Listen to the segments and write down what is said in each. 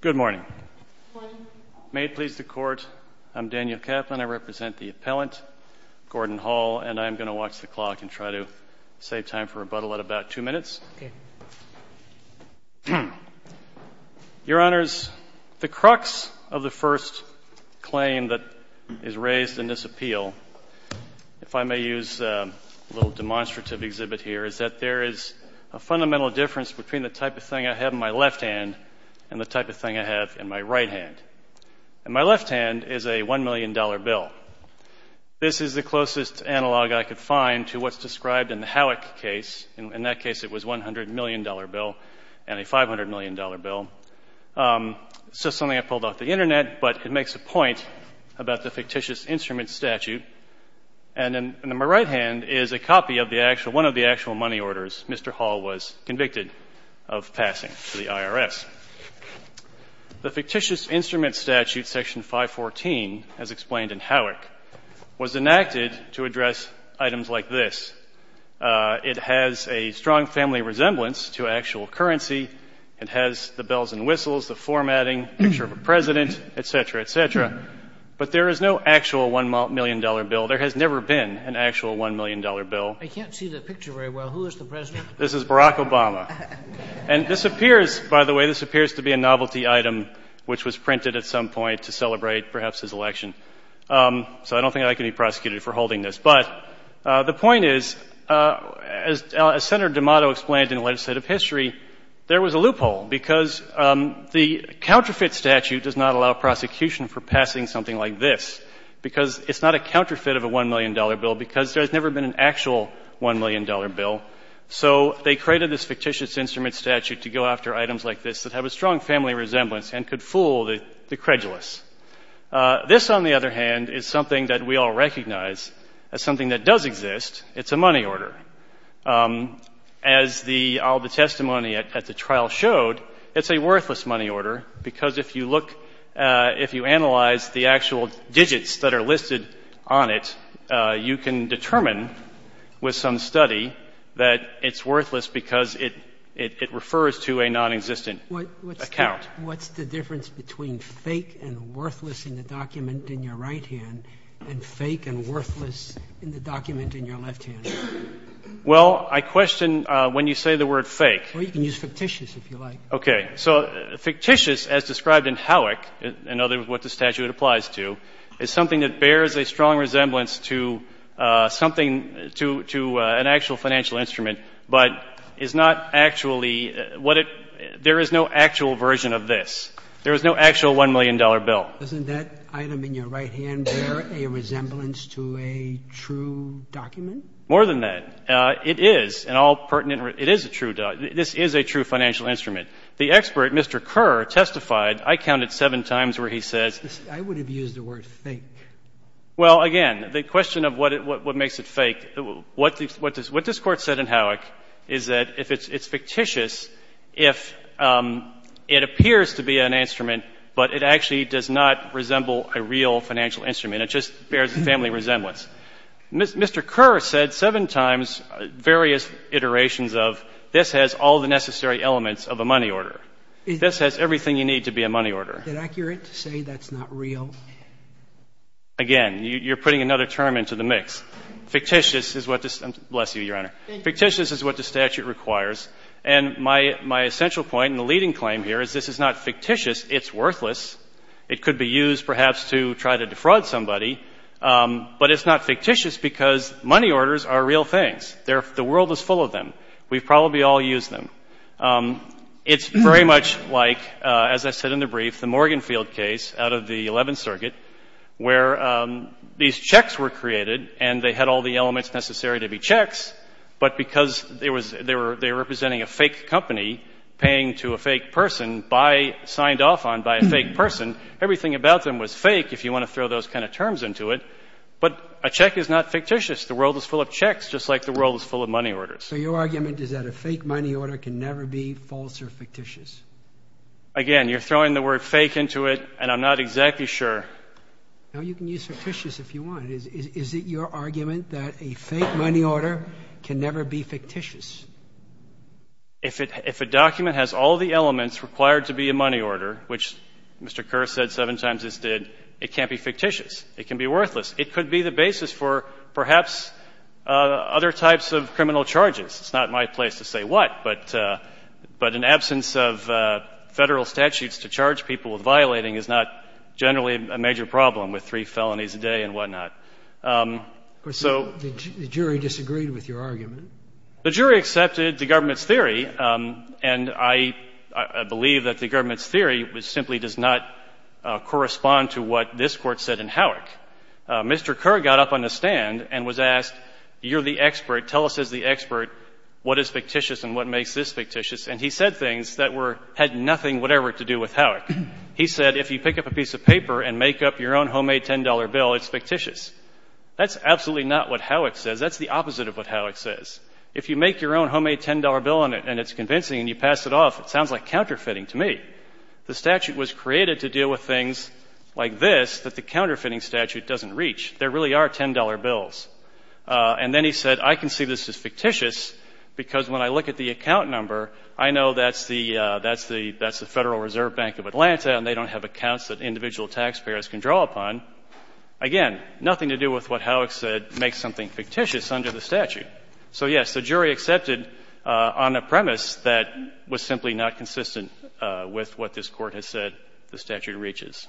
Good morning. May it please the Court, I'm Daniel Kaplan. I represent the appellant, Gordon Hall, and I'm going to watch the clock and try to save time for rebuttal at about two minutes. Your Honors, the crux of the first claim that is raised in this appeal, if I may use a little demonstrative exhibit here, is that there is a fundamental difference between the type of thing I have in my left hand and the type of thing I have in my right hand. In my left hand is a $1 million bill. This is the closest analog I could find to what's described in the Howick case. In that case, it was a $100 million bill and a $500 million bill. It's just something I pulled off the Internet, but it makes a point about the fictitious instrument statute. And in my right hand is a copy of the actual — one of the actual money orders Mr. Hall was convicted of passing to the IRS. The fictitious instrument statute, Section 514, as explained in Howick, was enacted to address items like this. It has a strong family resemblance to actual currency. It has the bells and whistles, the formatting, picture of a president, et cetera, et cetera. But there is no actual $1 million bill. There has never been an actual $1 million bill. I can't see the picture very well. Who is the president? This is Barack Obama. And this appears, by the way, this appears to be a novelty item which was printed at some point to celebrate perhaps his election. So I don't think I can be prosecuted for holding this. But the point is, as Senator D'Amato explained in the Legislative History, there was a loophole because the counterfeit statute does not allow prosecution for passing something like this because it's not a counterfeit of a $1 million bill because there has never been an actual $1 million bill. So they created this fictitious instrument statute to go after items like this that have a strong family resemblance and could fool the credulous. This, on the other hand, is something that we all recognize as something that does exist. It's a money order. As all the testimony at the trial showed, it's a worthless money order because if you look, if you analyze the actual digits that are listed on it, you can determine with some study that it's worthless because it refers to a nonexistent account. What's the difference between fake and worthless in the document in your right hand and fake and worthless in the document in your left hand? Well, I question when you say the word fake. Well, you can use fictitious if you like. Okay. So fictitious, as described in Howick, in other words, what the statute applies to, is something that bears a strong resemblance to something, to an actual financial instrument, but is not actually what it — there is no actual version of this. There is no actual $1 million bill. Doesn't that item in your right hand bear a resemblance to a true document? More than that. It is an all-pertinent — it is a true — this is a true financial instrument. The expert, Mr. Kerr, testified — I counted seven times where he says — I would have used the word fake. Well, again, the question of what makes it fake, what this Court said in Howick is that if it's fictitious, if it appears to be an instrument, but it actually does not resemble a real financial instrument, it just bears a family resemblance. Mr. Kerr said seven times various iterations of this has all the necessary elements of a money order. This has everything you need to be a money order. Is it accurate to say that's not real? Again, you're putting another term into the mix. Fictitious is what this — bless you, Your Honor. Fictitious is what the statute requires. And my essential point and the leading claim here is this is not fictitious, it's worthless. It could be used perhaps to try to defraud somebody, but it's not fictitious because money orders are real things. The world is full of them. We've probably all used them. It's very much like, as I said in the brief, the Morganfield case out of the 11th Circuit where these checks were created and they had all the elements necessary to be checks, but because they were representing a fake company paying to a fake person signed off on by a fake person, everything about them was fake, if you want to throw those kind of terms into it. But a check is not fictitious. The world is full of checks, just like the world is full of money orders. So your argument is that a fake money order can never be false or fictitious? Again, you're throwing the word fake into it, and I'm not exactly sure. Now, you can use fictitious if you want. Is it your argument that a fake money order can never be fictitious? If a document has all the elements required to be a money order, which Mr. Kerr said seven times it did, it can't be fictitious. It can be worthless. It could be the basis for perhaps other types of criminal charges. It's not my place to say what, but in absence of Federal statutes to charge people with violating is not generally a major problem with three felonies a day and whatnot. So the jury disagreed with your argument. The jury accepted the government's theory, and I believe that the government's theory simply does not correspond to what this Court said in Howick. Mr. Kerr got up on the stand and was asked, you're the expert. Tell us as the expert what is fictitious and what makes this fictitious. And he said things that had nothing whatever to do with Howick. He said if you pick up a piece of paper and make up your own homemade $10 bill, it's fictitious. That's absolutely not what Howick says. That's the opposite of what Howick says. If you make your own homemade $10 bill and it's convincing and you pass it off, it sounds like counterfeiting to me. The statute was created to deal with things like this that the counterfeiting statute doesn't reach. There really are $10 bills. And then he said I can see this as fictitious because when I look at the account number, I know that's the Federal Reserve Bank of Atlanta and they don't have accounts that individual taxpayers can draw upon. Again, nothing to do with what Howick said makes something fictitious under the statute. So, yes, the jury accepted on a premise that was simply not consistent with what this Court has said the statute reaches.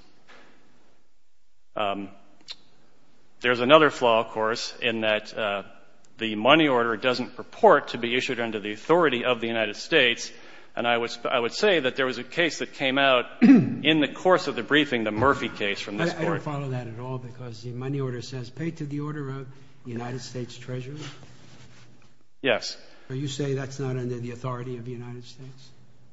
There's another flaw, of course, in that the money order doesn't purport to be issued under the authority of the United States. And I would say that there was a case that came out in the course of the briefing, the Murphy case from this Court. I don't follow that at all because the money order says pay to the order of the United States Treasury? Yes. So you say that's not under the authority of the United States?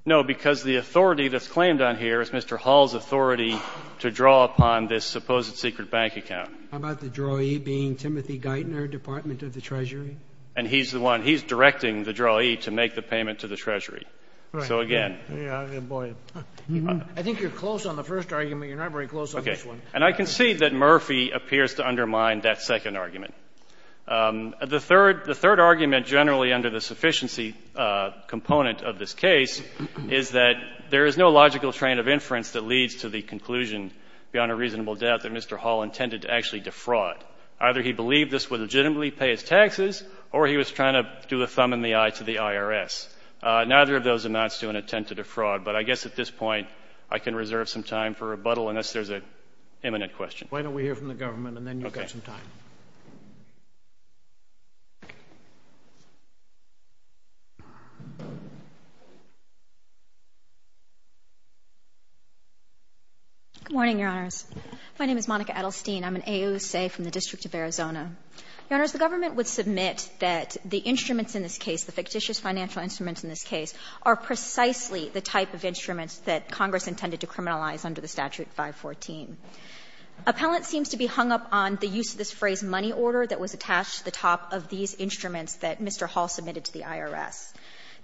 No, because the authority that's claimed on here is Mr. Hall's authority to draw upon this supposed secret bank account. How about the drawee being Timothy Geithner, Department of the Treasury? And he's the one. He's directing the drawee to make the payment to the Treasury. Right. So, again. I think you're close on the first argument. You're not very close on this one. Okay. And I can see that Murphy appears to undermine that second argument. The third argument generally under the sufficiency component of this case is that there is no logical train of inference that leads to the conclusion, beyond a reasonable doubt, that Mr. Hall intended to actually defraud. Either he believed this would legitimately pay his taxes, or he was trying to do a thumb in the eye to the IRS. Neither of those amounts to an attempt to defraud. But I guess at this point I can reserve some time for rebuttal unless there's an imminent question. Why don't we hear from the government and then you've got some time. Okay. Edelstein. Good morning, Your Honors. My name is Monica Edelstein. I'm an AUSA from the District of Arizona. Your Honors, the government would submit that the instruments in this case, the fictitious financial instruments in this case, are precisely the type of instruments that Congress intended to criminalize under the statute 514. Appellant seems to be hung up on the use of this phrase, money order, that was attached to the top of these instruments that Mr. Hall submitted to the IRS.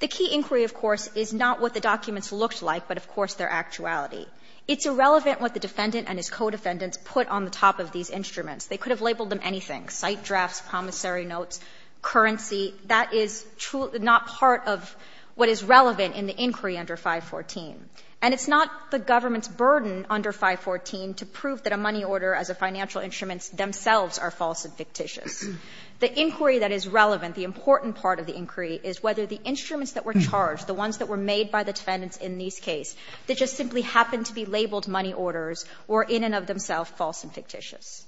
The key inquiry, of course, is not what the documents looked like, but of course their actuality. It's irrelevant what the defendant and his co-defendants put on the top of these instruments. They could have labeled them anything, site drafts, promissory notes, currency. That is not part of what is relevant in the inquiry under 514. And it's not the government's burden under 514 to prove that a money order as a financial instrument themselves are false and fictitious. The inquiry that is relevant, the important part of the inquiry, is whether the instruments that were charged, the ones that were made by the defendants in this case, they just simply happened to be labeled money orders or in and of themselves false and fictitious.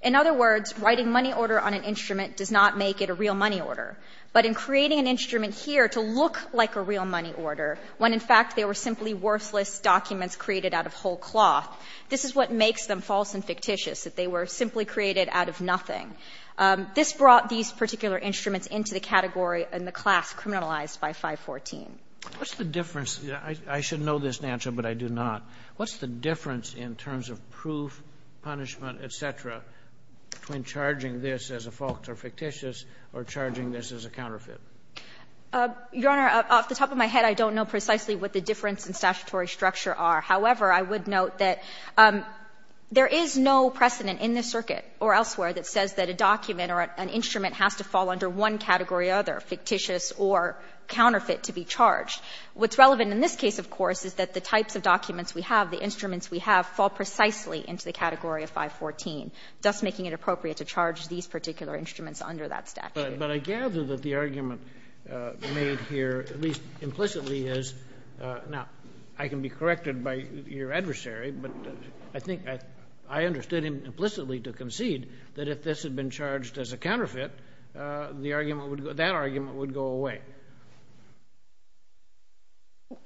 In other words, writing money order on an instrument does not make it a real money order. But in creating an instrument here to look like a real money order, when in fact they were simply worthless documents created out of whole cloth, this is what makes them false and fictitious, that they were simply created out of nothing. This brought these particular instruments into the category in the class criminalized by 514. What's the difference? I should know this, Nancho, but I do not. What's the difference in terms of proof, punishment, et cetera, between charging this as a false or fictitious or charging this as a counterfeit? Your Honor, off the top of my head, I don't know precisely what the difference in statutory structure are. However, I would note that there is no precedent in this circuit or elsewhere that says that a document or an instrument has to fall under one category or other, fictitious or counterfeit, to be charged. What's relevant in this case, of course, is that the types of documents we have, the instruments we have, fall precisely into the category of 514, thus making it appropriate to charge these particular instruments under that statute. But I gather that the argument made here, at least implicitly, is now, I can be corrected by your adversary, but I think I understood him implicitly to concede that if this had been charged as a counterfeit, the argument would go that argument would go away.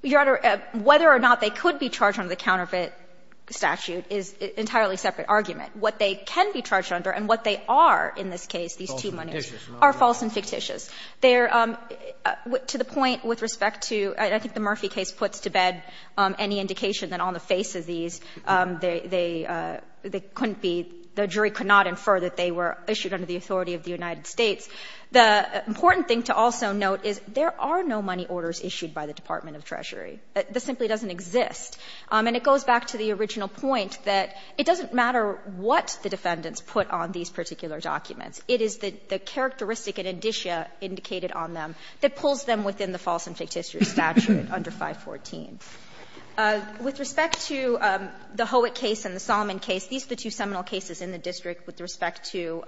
Your Honor, whether or not they could be charged under the counterfeit statute is an entirely separate argument. What they can be charged under and what they are in this case, these two monies, are false and fictitious. They are, to the point with respect to, I think the Murphy case puts to bed any indication that on the face of these, they couldn't be, the jury could not infer that they were issued under the authority of the United States. The important thing to also note is there are no money orders issued by the Department of Treasury. This simply doesn't exist. And it goes back to the original point that it doesn't matter what the defendants put on these particular documents. It is the characteristic and indicia indicated on them that pulls them within the false and fictitious statute under 514. With respect to the Howick case and the Solomon case, these are the two seminal cases in the district with respect to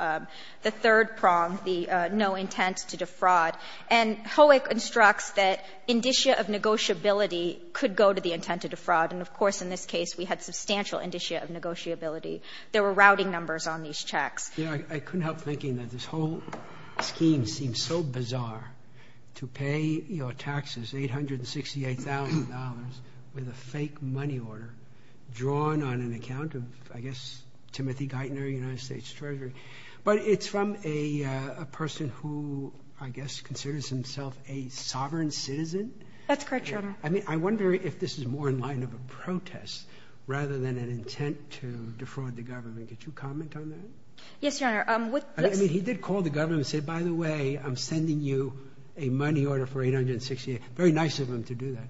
the third prong, the no intent to defraud. And Howick instructs that indicia of negotiability could go to the intent to defraud and, of course, in this case, we had substantial indicia of negotiability. There were routing numbers on these checks. Breyer, I couldn't help thinking that this whole scheme seems so bizarre, to pay your taxes, $868,000, with a fake money order drawn on an account of, I guess, Timothy Geithner, United States Treasury. But it's from a person who, I guess, considers himself a sovereign citizen? That's correct, Your Honor. I mean, I wonder if this is more in line of a protest rather than an intent to defraud the government. Could you comment on that? Yes, Your Honor. With this ---- I mean, he did call the government and say, by the way, I'm sending you a money order for $868,000. Very nice of him to do that.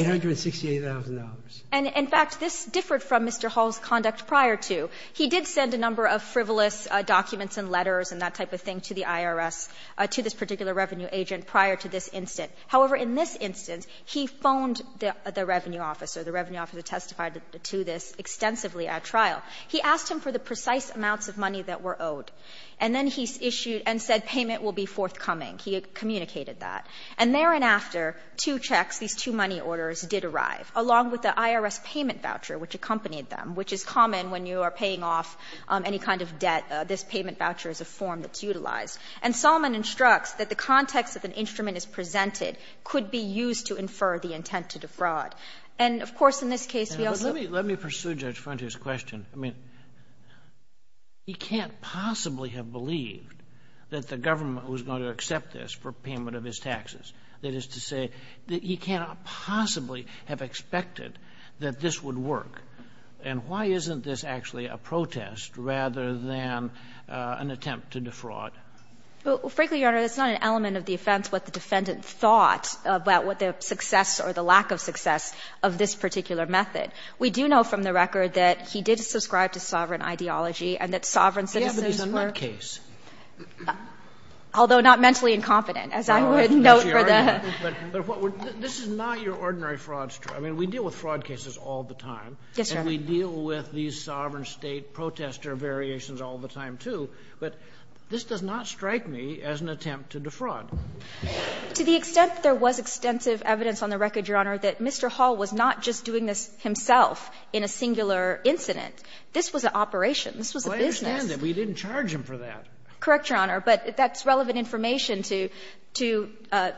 $868,000. And, in fact, this differed from Mr. Hall's conduct prior to. He did send a number of frivolous documents and letters and that type of thing to the IRS, to this particular revenue agent, prior to this incident. However, in this instance, he phoned the revenue officer. The revenue officer testified to this extensively at trial. He asked him for the precise amounts of money that were owed, and then he issued and said payment will be forthcoming. He communicated that. And thereafter, two checks, these two money orders, did arrive, along with the IRS payment voucher which accompanied them, which is common when you are paying off any kind of debt. This payment voucher is a form that's utilized. And Solomon instructs that the context of an instrument as presented could be used to infer the intent to defraud. And, of course, in this case, we also need to pursue Judge Frontier's question. I mean, he can't possibly have believed that the government was going to accept this for payment of his taxes. That is to say that he cannot possibly have expected that this would work. And why isn't this actually a protest rather than an attempt to defraud? Well, frankly, Your Honor, it's not an element of the offense what the defendant thought about what the success or the lack of success of this particular method. We do know from the record that he did subscribe to sovereign ideology and that sovereign citizens were -- Do you have a decent case? Although not mentally incompetent, as I would note for the ---- But this is not your ordinary fraud story. I mean, we deal with fraud cases all the time. Yes, Your Honor. And we deal with these sovereign State protester variations all the time, too. But this does not strike me as an attempt to defraud. To the extent there was extensive evidence on the record, Your Honor, that Mr. Hall was not just doing this himself in a singular incident. This was an operation. This was a business. Well, I understand that. We didn't charge him for that. Correct, Your Honor. But that's relevant information to ----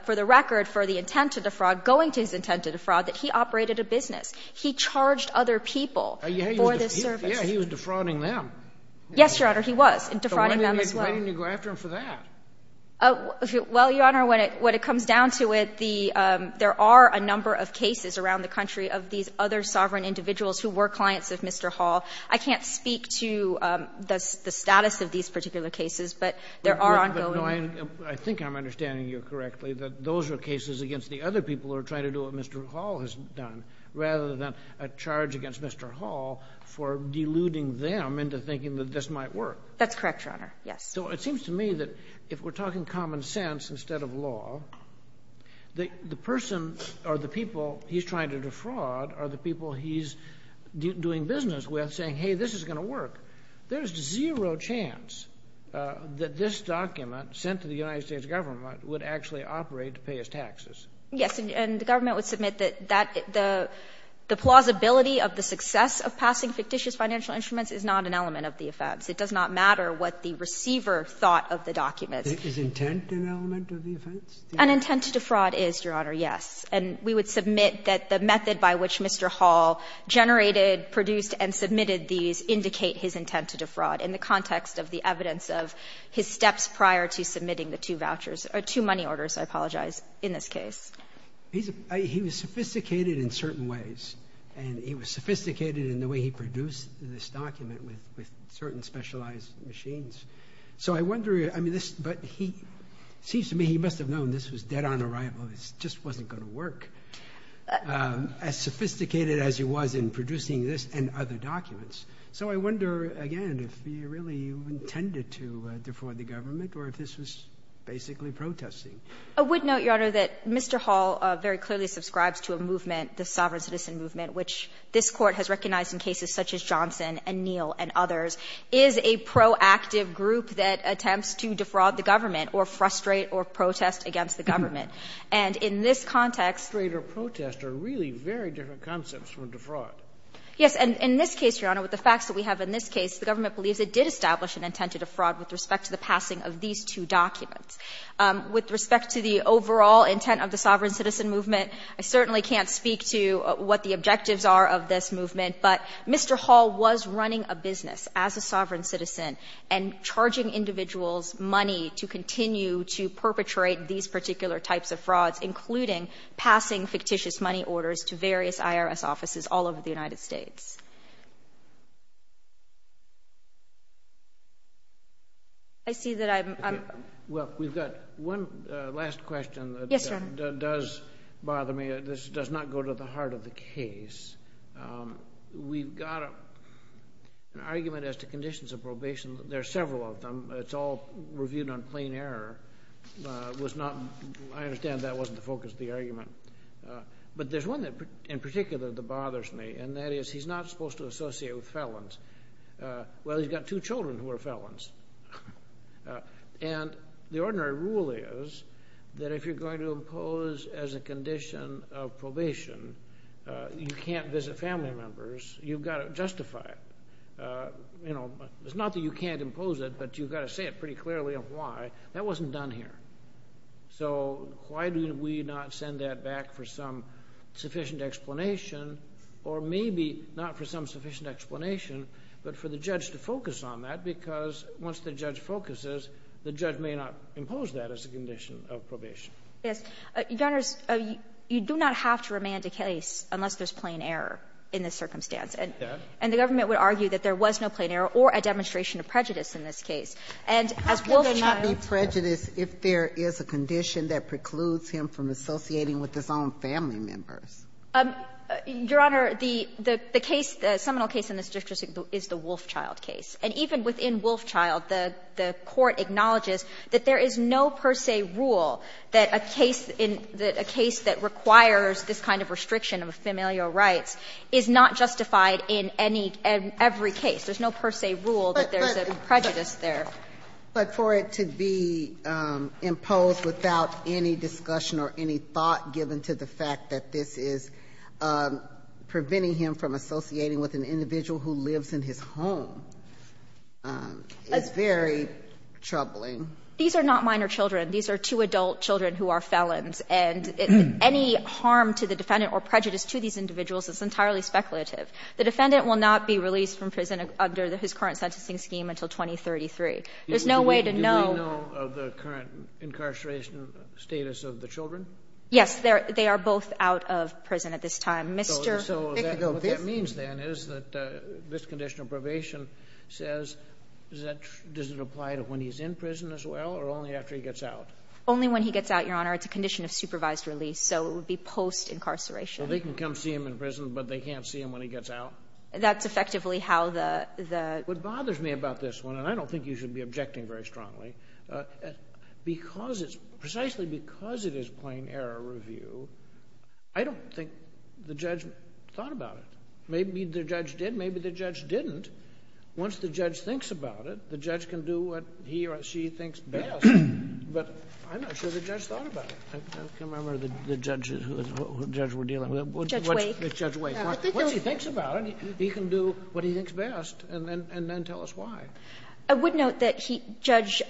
for the record, for the intent to defraud, going to his intent to defraud, that he operated a business. He charged other people for this service. Yes, he was defrauding them. Yes, Your Honor, he was. Defrauding them, as well. But why didn't you go after him for that? Well, Your Honor, when it comes down to it, the ---- there are a number of cases around the country of these other sovereign individuals who were clients of Mr. Hall. I can't speak to the status of these particular cases, but there are ongoing ---- But, no, I think I'm understanding you correctly, that those are cases against the other people who are trying to do what Mr. Hall has done, rather than a charge against Mr. Hall for deluding them into thinking that this might work. That's correct, Your Honor. Yes. So it seems to me that if we're talking common sense instead of law, that the person or the people he's trying to defraud are the people he's doing business with, saying, hey, this is going to work. There's zero chance that this document sent to the United States government would actually operate to pay his taxes. Yes. And the government would submit that that the plausibility of the success of passing fictitious financial instruments is not an element of the offense. It does not matter what the receiver thought of the document. Is intent an element of the offense? An intent to defraud is, Your Honor, yes. And we would submit that the method by which Mr. Hall generated, produced, and submitted these indicate his intent to defraud in the context of the evidence of his steps prior to submitting the two vouchers or two money orders, I apologize, in this case. He's a ---- he was sophisticated in certain ways, and he was sophisticated in the way he produced this document with certain specialized machines. So I wonder, I mean, this ---- but he ---- it seems to me he must have known this was dead on arrival. It just wasn't going to work. As sophisticated as he was in producing this and other documents. So I wonder, again, if he really intended to defraud the government or if this was basically protesting. I would note, Your Honor, that Mr. Hall very clearly subscribes to a movement, the Sovereign Citizen Movement, which this Court has recognized in cases such as Johnson and Neal and others, is a proactive group that attempts to defraud the government or frustrate or protest against the government. And in this context ---- Scaliaro ---- frustrate or protest are really very different concepts from defraud. ---- Yes. And in this case, Your Honor, with the facts that we have in this case, the government believes it did establish an intent to defraud with respect to the passing of these two documents. With respect to the overall intent of the Sovereign Citizen Movement, I certainly can't speak to what the objectives are of this movement. But Mr. Hall was running a business as a sovereign citizen and charging individuals money to continue to perpetrate these particular types of frauds, including passing fictitious money orders to various IRS offices all over the United States. I see that I'm ---- Well, we've got one last question that does bother me. Yes, Your Honor. This does not go to the heart of the case. We've got an argument as to conditions of probation. There are several of them. It's all reviewed on plain error. It was not ---- I understand that wasn't the focus of the argument. But there's one in particular that bothers me, and that is he's not supposed to associate with felons. Well, he's got two children who are felons. And the ordinary rule is that if you're going to impose as a condition of probation, you can't visit family members. You've got to justify it. You know, it's not that you can't impose it, but you've got to say it pretty clearly on why. That wasn't done here. So why did we not send that back for some sufficient explanation, or maybe not for some sufficient explanation, but for the judge to focus on that, because once the judge focuses, the judge may not impose that as a condition of probation? Yes. Your Honor, you do not have to remand a case unless there's plain error in the circumstance. And the government would argue that there was no plain error or a demonstration of prejudice in this case. And as Wolfchild ---- How can there not be prejudice if there is a condition that precludes him from associating with his own family members? Your Honor, the case, the seminal case in this district is the Wolfchild case. And even within Wolfchild, the court acknowledges that there is no per se rule that a case in the ---- a case that requires this kind of restriction of familial rights is not justified in any ---- in every case. There's no per se rule that there's a prejudice there. But for it to be imposed without any discussion or any thought given to the fact that this is preventing him from associating with an individual who lives in his home is very troubling. These are not minor children. These are two adult children who are felons. And any harm to the defendant or prejudice to these individuals is entirely speculative. The defendant will not be released from prison under his current sentencing scheme until 2033. There's no way to know ---- Do we know of the current incarceration status of the children? Yes. They are both out of prison at this time. Mr. ---- So what that means, then, is that this condition of probation says does it apply to when he's in prison as well or only after he gets out? Only when he gets out, Your Honor. It's a condition of supervised release. So it would be post-incarceration. So they can come see him in prison, but they can't see him when he gets out? That's effectively how the ---- What bothers me about this one, and I don't think you should be objecting very strongly, because it's precisely because it is plain error review, I don't think the judge thought about it. Maybe the judge did. Maybe the judge didn't. Once the judge thinks about it, the judge can do what he or she thinks best. But I'm not sure the judge thought about it. I can't remember who the judge was dealing with. Judge Wake. Judge Wake. Once he thinks about it, he can do what he thinks best and then tell us why. I would note that Judge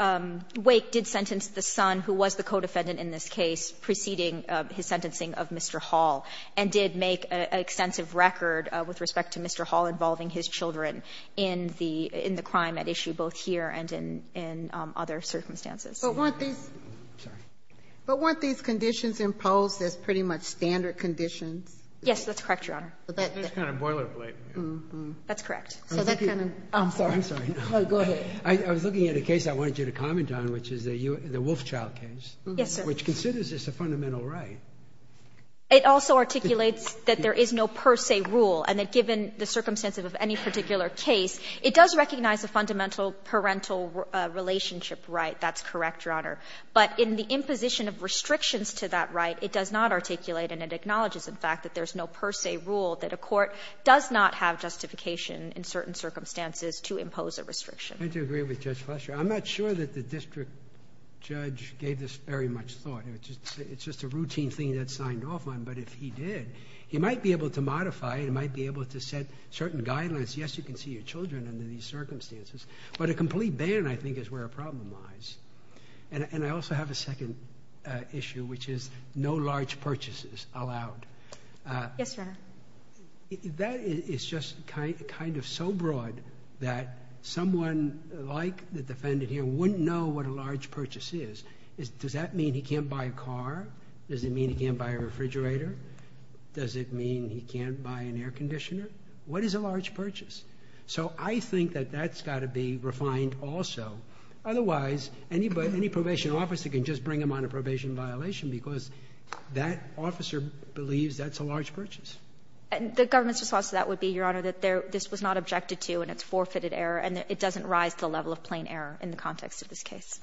Wake did sentence the son, who was the co-defendant in this case, preceding his sentencing of Mr. Hall, and did make an extensive record with respect to Mr. Hall involving his children in the crime at issue both here and in other circumstances. But weren't these conditions imposed as pretty much standard conditions? Yes, that's correct, Your Honor. That's kind of boilerplate. That's correct. I'm sorry. I'm sorry. Go ahead. I was looking at a case I wanted you to comment on, which is the Wolfe child case. Yes, sir. Which considers this a fundamental right. It also articulates that there is no per se rule and that given the circumstances of any particular case, it does recognize a fundamental parental relationship right. That's correct, Your Honor. But in the imposition of restrictions to that right, it does not articulate and it acknowledges, in fact, that there's no per se rule that a court does not have the justification in certain circumstances to impose a restriction. I do agree with Judge Fletcher. I'm not sure that the district judge gave this very much thought. It's just a routine thing that's signed off on. But if he did, he might be able to modify it. He might be able to set certain guidelines. Yes, you can see your children under these circumstances. But a complete ban, I think, is where the problem lies. And I also have a second issue, which is no large purchases allowed. Yes, Your Honor. That is just kind of so broad that someone like the defendant here wouldn't know what a large purchase is. Does that mean he can't buy a car? Does it mean he can't buy a refrigerator? Does it mean he can't buy an air conditioner? What is a large purchase? So I think that that's got to be refined also. Otherwise, any probation officer can just bring him on a probation violation because that officer believes that's a large purchase. And the government's response to that would be, Your Honor, that this was not objected to and it's forfeited error and it doesn't rise to the level of plain error in the context of this case.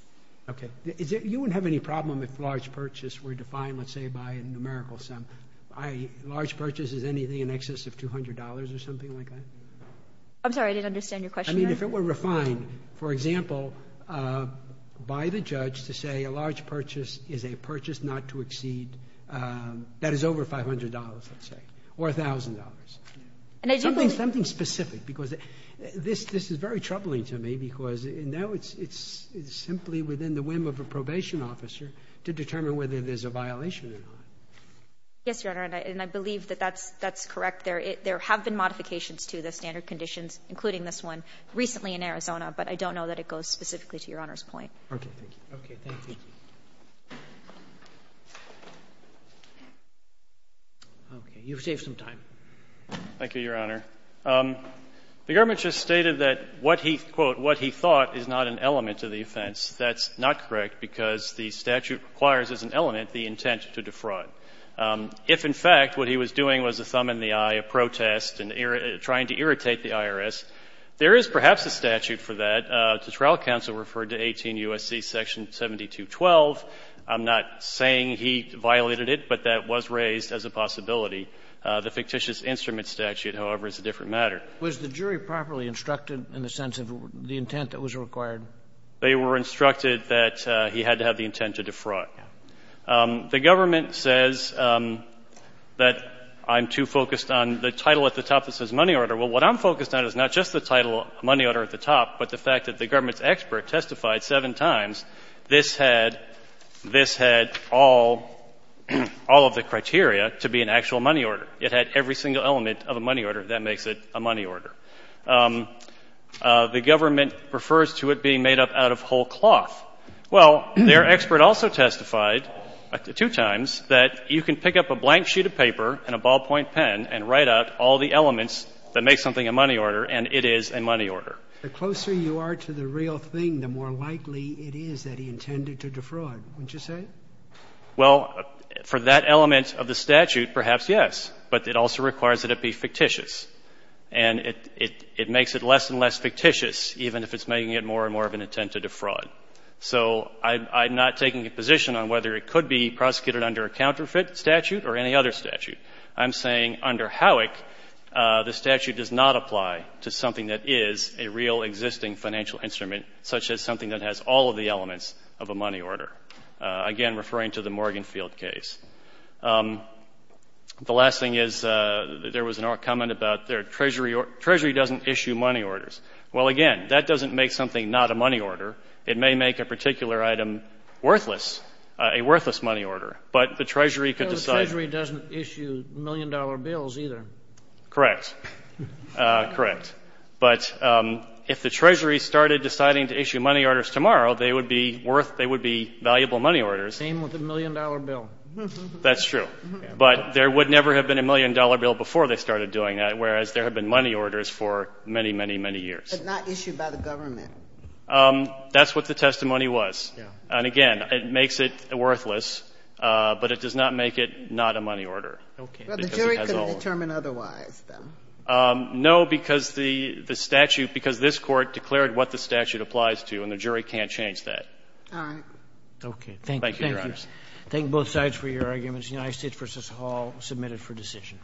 Okay. You wouldn't have any problem if large purchases were defined, let's say, by a numerical sum. A large purchase is anything in excess of $200 or something like that? I'm sorry. I didn't understand your question. I mean, if it were refined, for example, by the judge to say a large purchase is a purchase not to exceed, that is over $500, let's say, or $1,000. Something specific, because this is very troubling to me, because now it's simply within the whim of a probation officer to determine whether there's a violation or not. Yes, Your Honor. And I believe that that's correct. There have been modifications to the standard conditions, including this one, recently in Arizona. But I don't know that it goes specifically to Your Honor's point. Okay. Thank you. Okay. You've saved some time. Thank you, Your Honor. The government just stated that what he, quote, what he thought is not an element to the offense. That's not correct, because the statute requires as an element the intent to defraud. If, in fact, what he was doing was a thumb in the eye, a protest, and trying to irritate the IRS, there is perhaps a statute for that. The trial counsel referred to 18 U.S.C. section 7212. I'm not saying he violated it, but that was raised as a possibility. The fictitious instrument statute, however, is a different matter. Was the jury properly instructed in the sense of the intent that was required? They were instructed that he had to have the intent to defraud. The government says that I'm too focused on the title at the top that says money order. Well, what I'm focused on is not just the title money order at the top, but the fact that the government's expert testified seven times this had all of the criteria to be an actual money order. It had every single element of a money order. That makes it a money order. The government refers to it being made up out of whole cloth. Well, their expert also testified two times that you can pick up a blank sheet of paper and a ballpoint pen and write out all the elements that make something a money order, and it is a money order. The closer you are to the real thing, the more likely it is that he intended to defraud, wouldn't you say? Well, for that element of the statute, perhaps, yes. But it also requires that it be fictitious. And it makes it less and less fictitious, even if it's making it more and more of an attempt to defraud. So I'm not taking a position on whether it could be prosecuted under a counterfeit statute or any other statute. I'm saying under Howick, the statute does not apply to something that is a real existing financial instrument, such as something that has all of the elements of a money order, again, referring to the Morgan Field case. The last thing is there was a comment about the Treasury doesn't issue money orders. Well, again, that doesn't make something not a money order. It may make a particular item worthless, a worthless money order. But the Treasury could decide. Well, the Treasury doesn't issue million-dollar bills either. Correct. Correct. But if the Treasury started deciding to issue money orders tomorrow, they would be worth, they would be valuable money orders. Same with the million-dollar bill. That's true. But there would never have been a million-dollar bill before they started doing that, whereas there have been money orders for many, many, many years. But not issued by the government. That's what the testimony was. And, again, it makes it worthless, but it does not make it not a money order. Okay. Because it has all of them. But the jury couldn't determine otherwise, then. No, because the statute, because this Court declared what the statute applies to, and the jury can't change that. All right. Okay. Thank you, Your Honor. Thank both sides for your arguments. The United States v. Hall, submitted for decision.